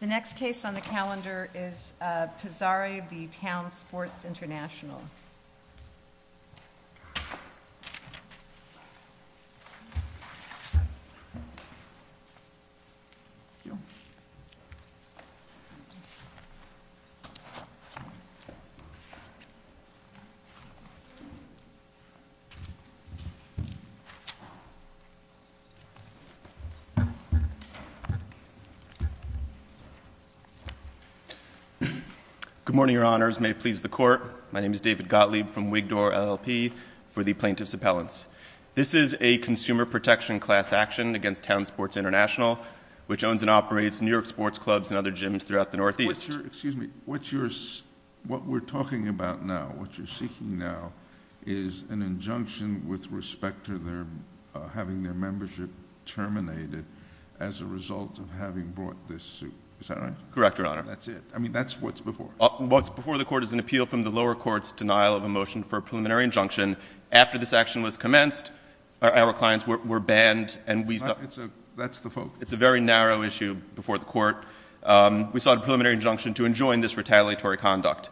The next case on the calendar is Pizarri v. Town Sports International. Good morning, Your Honors. May it please the Court, my name is David Gottlieb from Wigdor, LLP, for the Plaintiff's Appellants. This is a consumer protection class action against Town Sports International, which owns and operates New York sports clubs and other gyms throughout the Northeast. Excuse me. What we're talking about now, what you're seeking now, is an injunction with respect to having their membership terminated as a result of having brought this suit. Is that right? Correct, Your Honor. That's it. I mean, that's what's before. What's before the Court is an appeal from the lower court's denial of a motion for a preliminary injunction. After this action was commenced, our clients were banned, and we saw That's the focus. It's a very narrow issue before the Court. We sought a preliminary injunction to enjoin this retaliatory conduct.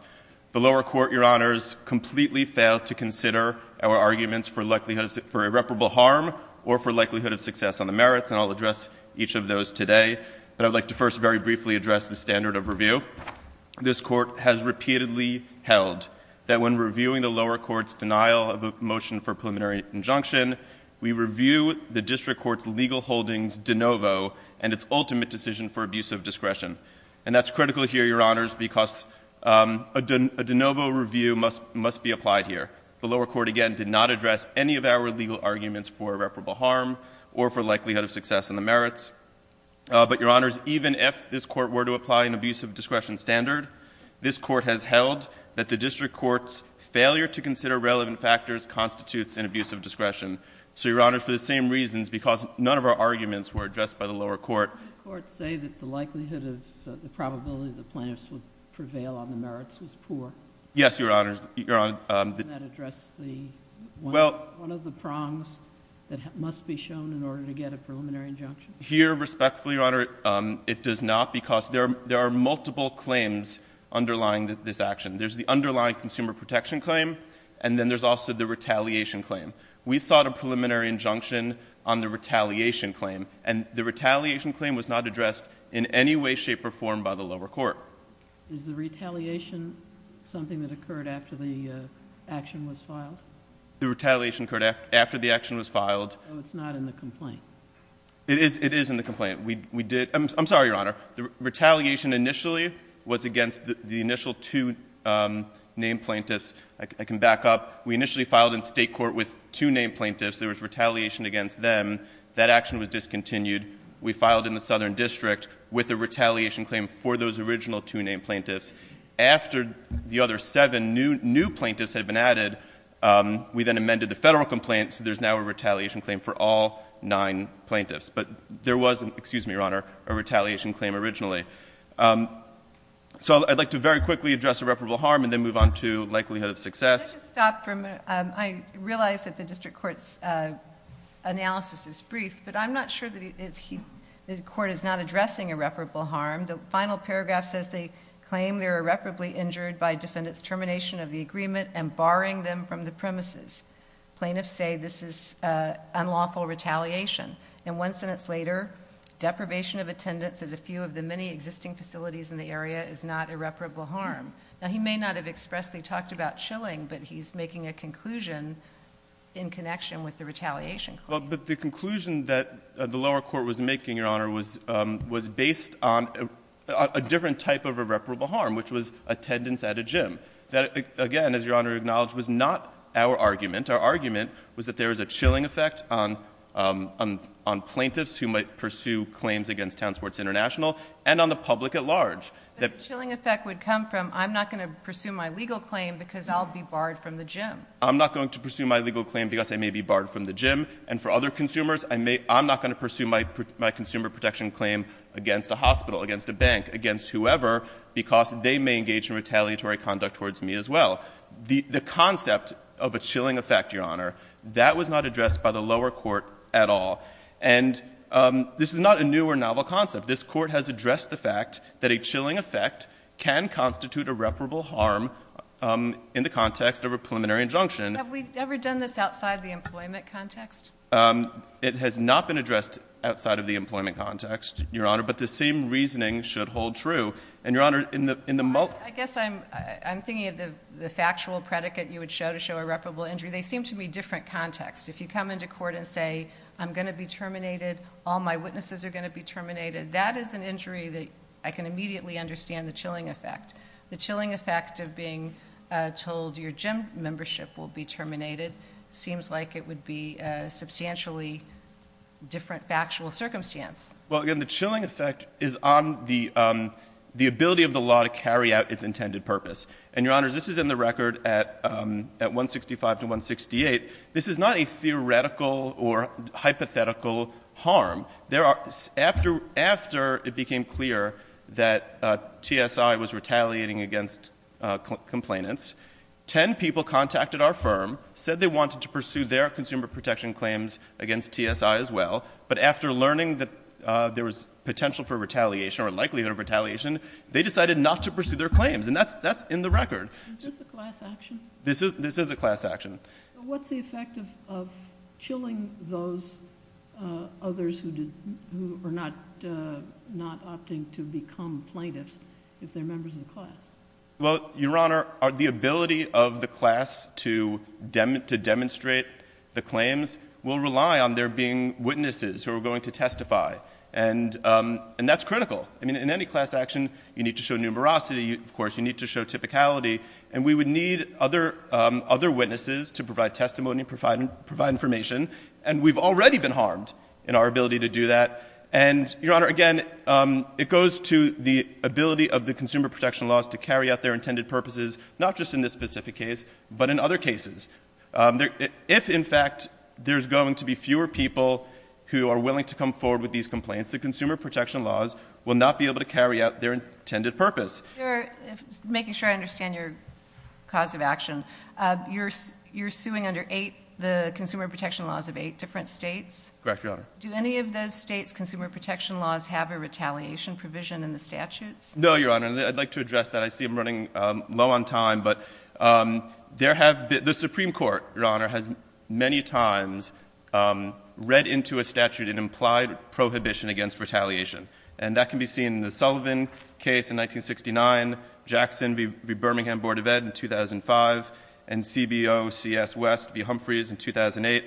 The lower court, Your Honors, completely failed to consider our arguments for irreparable harm or for likelihood of success on the merits, and I'll address each of those today. But I'd like to first very briefly address the standard of review. This Court has repeatedly held that when reviewing the lower court's denial of a motion for a preliminary injunction, we review the district court's legal holdings de novo and its ultimate decision for abusive discretion. And that's critical here, Your Honors, because a de novo review must be applied here. The lower court, again, did not address any of our legal arguments for irreparable harm or for likelihood of success in the merits. But, Your Honors, even if this Court were to apply an abusive discretion standard, this Court has held that the district court's failure to consider relevant factors constitutes an abusive discretion. So, Your Honors, for the same reasons, because none of our arguments were addressed by the lower court Did the lower court say that the likelihood of the probability that plaintiffs would prevail on the merits was poor? Yes, Your Honors. Didn't that address one of the prongs that must be shown in order to get a preliminary injunction? Here, respectfully, Your Honor, it does not because there are multiple claims underlying this action. There's the underlying consumer protection claim, and then there's also the retaliation claim. We sought a preliminary injunction on the retaliation claim, and the retaliation claim was not addressed in any way, shape, or form by the lower court. Is the retaliation something that occurred after the action was filed? The retaliation occurred after the action was filed. So it's not in the complaint? It is in the complaint. I'm sorry, Your Honor. The retaliation initially was against the initial two named plaintiffs. I can back up. We initially filed in State court with two named plaintiffs. There was retaliation against them. That action was discontinued. We filed in the Southern District with a retaliation claim for those original two named plaintiffs. After the other seven new plaintiffs had been added, we then amended the Federal complaint, so there's now a retaliation claim for all nine plaintiffs. But there was, excuse me, Your Honor, a retaliation claim originally. So I'd like to very quickly address irreparable harm and then move on to likelihood of success. Can I just stop for a minute? I realize that the district court's analysis is brief, but I'm not sure that the court is not addressing irreparable harm. The final paragraph says they claim they were irreparably injured by defendant's termination of the agreement and barring them from the premises. Plaintiffs say this is unlawful retaliation. And one sentence later, deprivation of attendance at a few of the many existing facilities in the area is not irreparable harm. Now, he may not have expressly talked about chilling, but he's making a conclusion in connection with the retaliation claim. But the conclusion that the lower court was making, Your Honor, was based on a different type of irreparable harm, which was attendance at a gym. That, again, as Your Honor acknowledged, was not our argument. Our argument was that there is a chilling effect on plaintiffs who might pursue claims against Townsports International and on the public at large. But the chilling effect would come from I'm not going to pursue my legal claim because I'll be barred from the gym. I'm not going to pursue my legal claim because I may be barred from the gym. And for other consumers, I'm not going to pursue my consumer protection claim against a hospital, against a bank, against whoever, because they may engage in retaliatory conduct towards me as well. The concept of a chilling effect, Your Honor, that was not addressed by the lower court at all. And this is not a new or novel concept. This court has addressed the fact that a chilling effect can constitute irreparable harm in the context of a preliminary injunction. Have we ever done this outside the employment context? It has not been addressed outside of the employment context, Your Honor. But the same reasoning should hold true. I guess I'm thinking of the factual predicate you would show to show irreparable injury. They seem to be different contexts. If you come into court and say I'm going to be terminated, all my witnesses are going to be terminated, that is an injury that I can immediately understand the chilling effect. The chilling effect of being told your gym membership will be terminated seems like it would be a substantially different factual circumstance. Well, again, the chilling effect is on the ability of the law to carry out its intended purpose. And, Your Honor, this is in the record at 165 to 168. This is not a theoretical or hypothetical harm. After it became clear that TSI was retaliating against complainants, 10 people contacted our firm, said they wanted to pursue their consumer protection claims against TSI as well. But after learning that there was potential for retaliation or likelihood of retaliation, they decided not to pursue their claims. And that's in the record. Is this a class action? This is a class action. What's the effect of chilling those others who are not opting to become plaintiffs if they're members of the class? Well, Your Honor, the ability of the class to demonstrate the claims will rely on there being witnesses who are going to testify. And that's critical. I mean, in any class action, you need to show numerosity. Of course, you need to show typicality. And we would need other witnesses to provide testimony, provide information. And we've already been harmed in our ability to do that. And, Your Honor, again, it goes to the ability of the consumer protection laws to carry out their intended purposes, not just in this specific case, but in other cases. If, in fact, there's going to be fewer people who are willing to come forward with these complaints, the consumer protection laws will not be able to carry out their intended purpose. Making sure I understand your cause of action, you're suing under eight, the consumer protection laws of eight different states? Correct, Your Honor. Do any of those states' consumer protection laws have a retaliation provision in the statutes? No, Your Honor. I'd like to address that. I see I'm running low on time. But the Supreme Court, Your Honor, has many times read into a statute an implied prohibition against retaliation. And that can be seen in the Sullivan case in 1969, Jackson v. Birmingham Board of Ed in 2005, and CBO CS West v. Humphreys in 2008.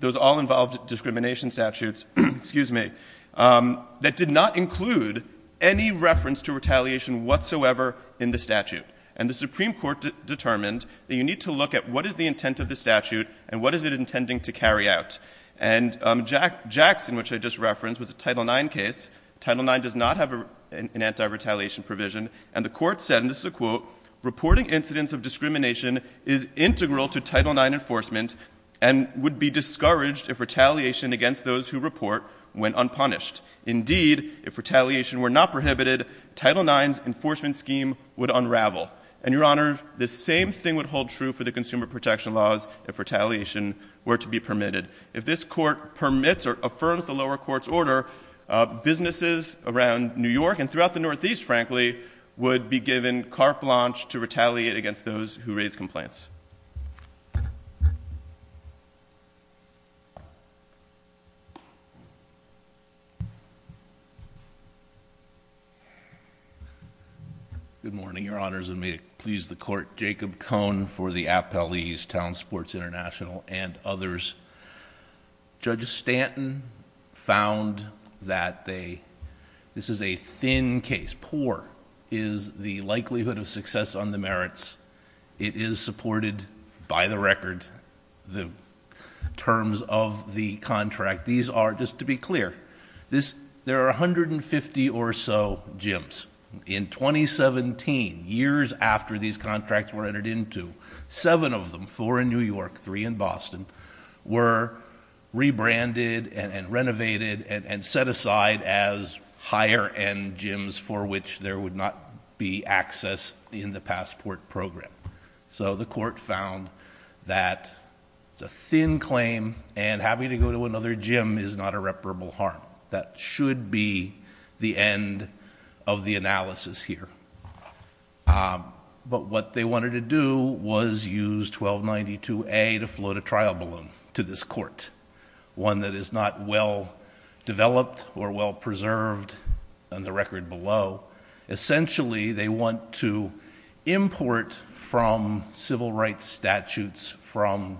Those all involved discrimination statutes, excuse me, that did not include any reference to retaliation whatsoever in the statute. And the Supreme Court determined that you need to look at what is the intent of the statute and what is it intending to carry out. And Jackson, which I just referenced, was a Title IX case. Title IX does not have an anti-retaliation provision. And the court said, and this is a quote, reporting incidents of discrimination is integral to Title IX enforcement and would be discouraged if retaliation against those who report went unpunished. Indeed, if retaliation were not prohibited, Title IX's enforcement scheme would unravel. And, Your Honor, the same thing would hold true for the consumer protection laws if retaliation were to be permitted. If this court permits or affirms the lower court's order, businesses around New York and throughout the Northeast, frankly, would be given carte blanche to retaliate against those who raise complaints. Good morning, Your Honors, and may it please the Court. Jacob Cohn for the Appellee's Town Sports International and others. Judge Stanton found that this is a thin case. Poor is the likelihood of success on the merits. It is supported by the record, the terms of the contract. These are, just to be clear, there are 150 or so gyms. In 2017, years after these contracts were entered into, seven of them, four in New York, three in Boston, were rebranded and renovated and set aside as higher-end gyms for which there would not be access in the passport program. So the court found that it's a thin claim, and having to go to another gym is not irreparable harm. That should be the end of the analysis here. But what they wanted to do was use 1292A to float a trial balloon to this court, one that is not well-developed or well-preserved on the record below. Essentially, they want to import from civil rights statutes, from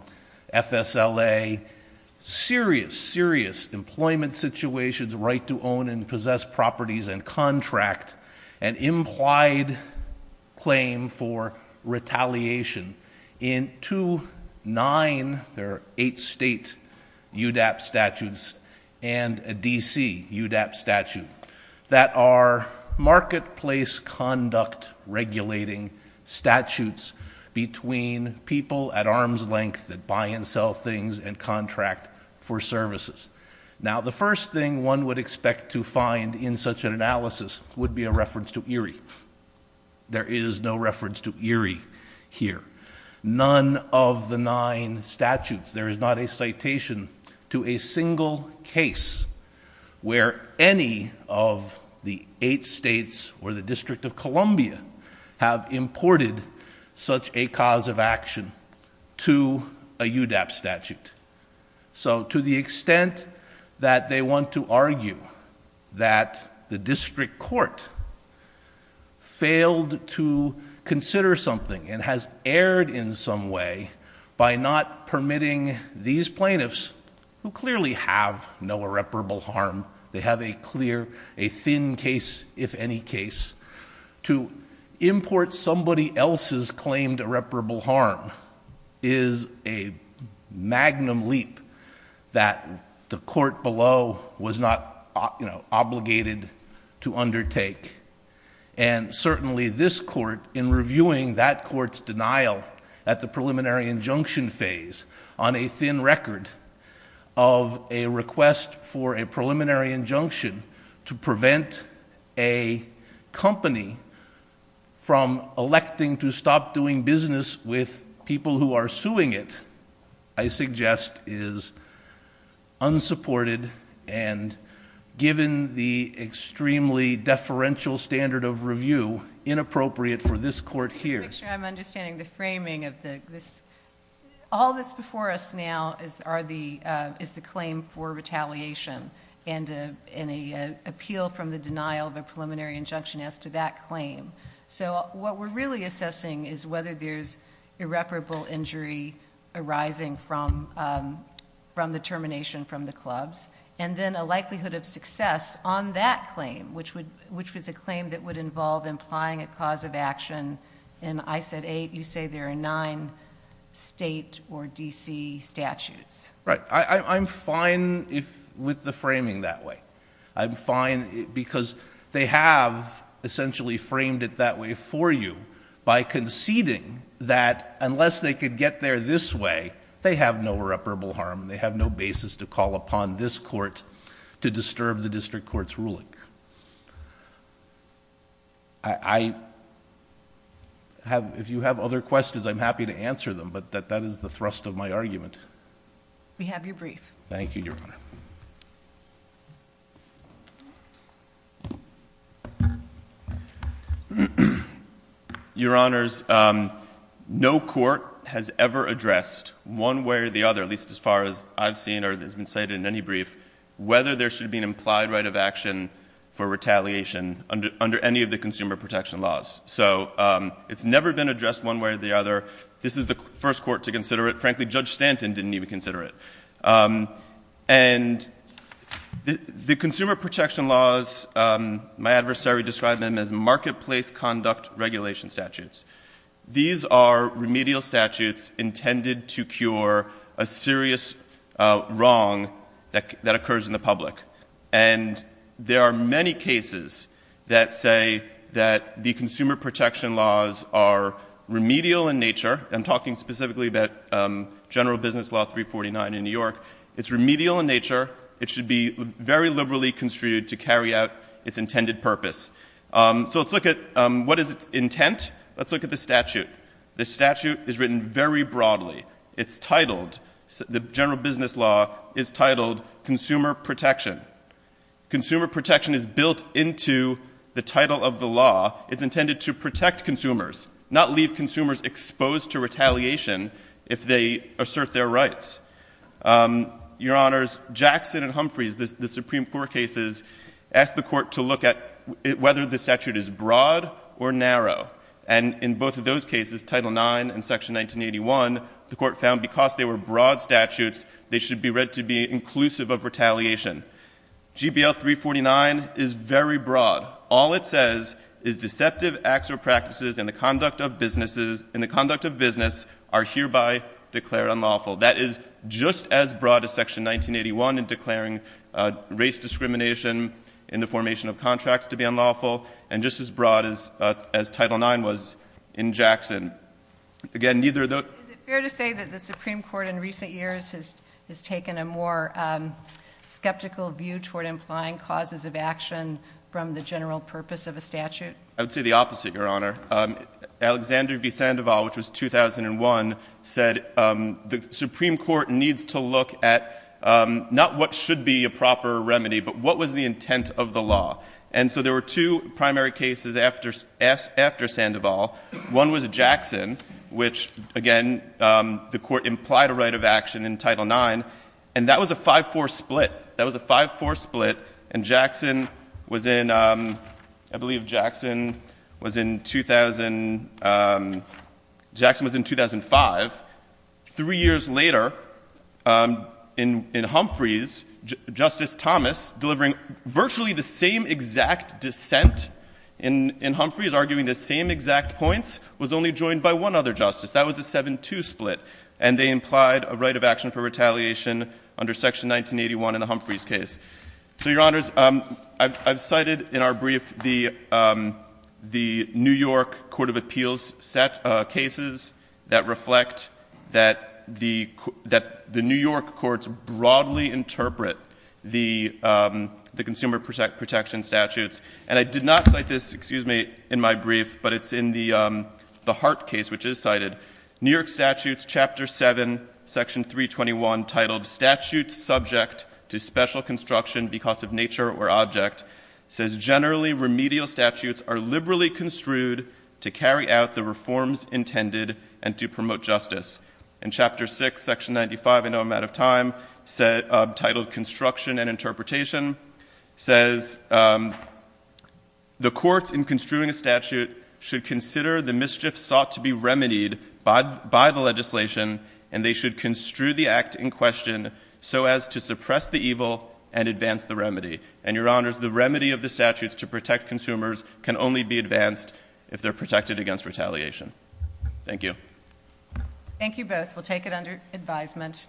FSLA, serious, serious employment situations, right to own and possess properties and contract, an implied claim for retaliation in two, nine, there are eight state UDAP statutes, and a D.C. UDAP statute that are marketplace conduct regulating statutes between people at arm's length that buy and sell things and contract for services. Now, the first thing one would expect to find in such an analysis would be a reference to Erie. There is no reference to Erie here. None of the nine statutes, there is not a citation to a single case where any of the eight states or the District of Columbia have imported such a cause of action to a UDAP statute. So to the extent that they want to argue that the district court failed to consider something and has erred in some way by not permitting these plaintiffs, who clearly have no irreparable harm, they have a clear, a thin case, if any case, to import somebody else's claimed irreparable harm is a magnum leap that the court below was not, you know, obligated to undertake. And certainly this court, in reviewing that court's denial at the preliminary injunction phase, on a thin record of a request for a preliminary injunction to prevent a company from electing to stop doing business with people who are suing it, I suggest is unsupported and given the extremely deferential standard of review inappropriate for this court here. Make sure I'm understanding the framing of this. All this before us now is the claim for retaliation and an appeal from the denial of a preliminary injunction as to that claim. So what we're really assessing is whether there's irreparable injury arising from the termination from the clubs and then a likelihood of success on that claim, which was a claim that would involve implying a cause of action. And I said eight. You say there are nine state or D.C. statutes. Right. I'm fine with the framing that way. I'm fine because they have essentially framed it that way for you by conceding that unless they could get there this way, they have no irreparable harm. They have no basis to call upon this court to disturb the district court's ruling. If you have other questions, I'm happy to answer them, but that is the thrust of my argument. We have your brief. Thank you, Your Honor. Your Honors, no court has ever addressed one way or the other, at least as far as I've seen or has been cited in any brief, whether there should be an implied right of action for retaliation under any of the consumer protection laws. So it's never been addressed one way or the other. This is the first court to consider it. Frankly, Judge Stanton didn't even consider it. And the consumer protection laws, my adversary described them as marketplace conduct regulation statutes. These are remedial statutes intended to cure a serious wrong that occurs in the public. And there are many cases that say that the consumer protection laws are remedial in nature. I'm talking specifically about General Business Law 349 in New York. It's remedial in nature. It should be very liberally construed to carry out its intended purpose. So let's look at what is its intent. Let's look at the statute. The statute is written very broadly. It's titled, the General Business Law is titled Consumer Protection. Consumer Protection is built into the title of the law. It's intended to protect consumers, not leave consumers exposed to retaliation if they assert their rights. Your Honors, Jackson and Humphreys, the Supreme Court cases, asked the court to look at whether the statute is broad or narrow. And in both of those cases, Title IX and Section 1981, the court found because they were broad statutes, they should be read to be inclusive of retaliation. GBL 349 is very broad. All it says is deceptive acts or practices in the conduct of businesses are hereby declared unlawful. That is just as broad as Section 1981 in declaring race discrimination in the formation of contracts to be unlawful, and just as broad as Title IX was in Jackson. Again, neither of those- Is it fair to say that the Supreme Court in recent years has taken a more skeptical view toward implying causes of action from the general purpose of a statute? I would say the opposite, Your Honor. Alexander v. Sandoval, which was 2001, said the Supreme Court needs to look at not what should be a proper remedy, but what was the intent of the law. And so there were two primary cases after Sandoval. One was Jackson, which, again, the Court implied a right of action in Title IX. And that was a 5-4 split. That was a 5-4 split. And Jackson was in, I believe Jackson was in 2000 — Jackson was in 2005. Three years later, in Humphreys, Justice Thomas, delivering virtually the same exact dissent in Humphreys, arguing the same exact points, was only joined by one other justice. That was a 7-2 split. And they implied a right of action for retaliation under Section 1981 in the Humphreys case. So, Your Honors, I've cited in our brief the New York court of appeals cases that reflect that the New York courts broadly interpret the consumer protection statutes. And I did not cite this, excuse me, in my brief, but it's in the Hart case, which is cited. New York statutes, Chapter 7, Section 321, titled Statutes Subject to Special Construction Because of Nature or Object, says generally remedial statutes are liberally construed to carry out the reforms intended and to promote justice. In Chapter 6, Section 95, I know I'm out of time, titled Construction and Interpretation, says the courts in construing a statute should consider the mischief sought to be remedied by the legislation, and they should construe the act in question so as to suppress the evil and advance the remedy. And, Your Honors, the remedy of the statutes to protect consumers can only be advanced if they're protected against retaliation. Thank you. Thank you both. We'll take it under advisement.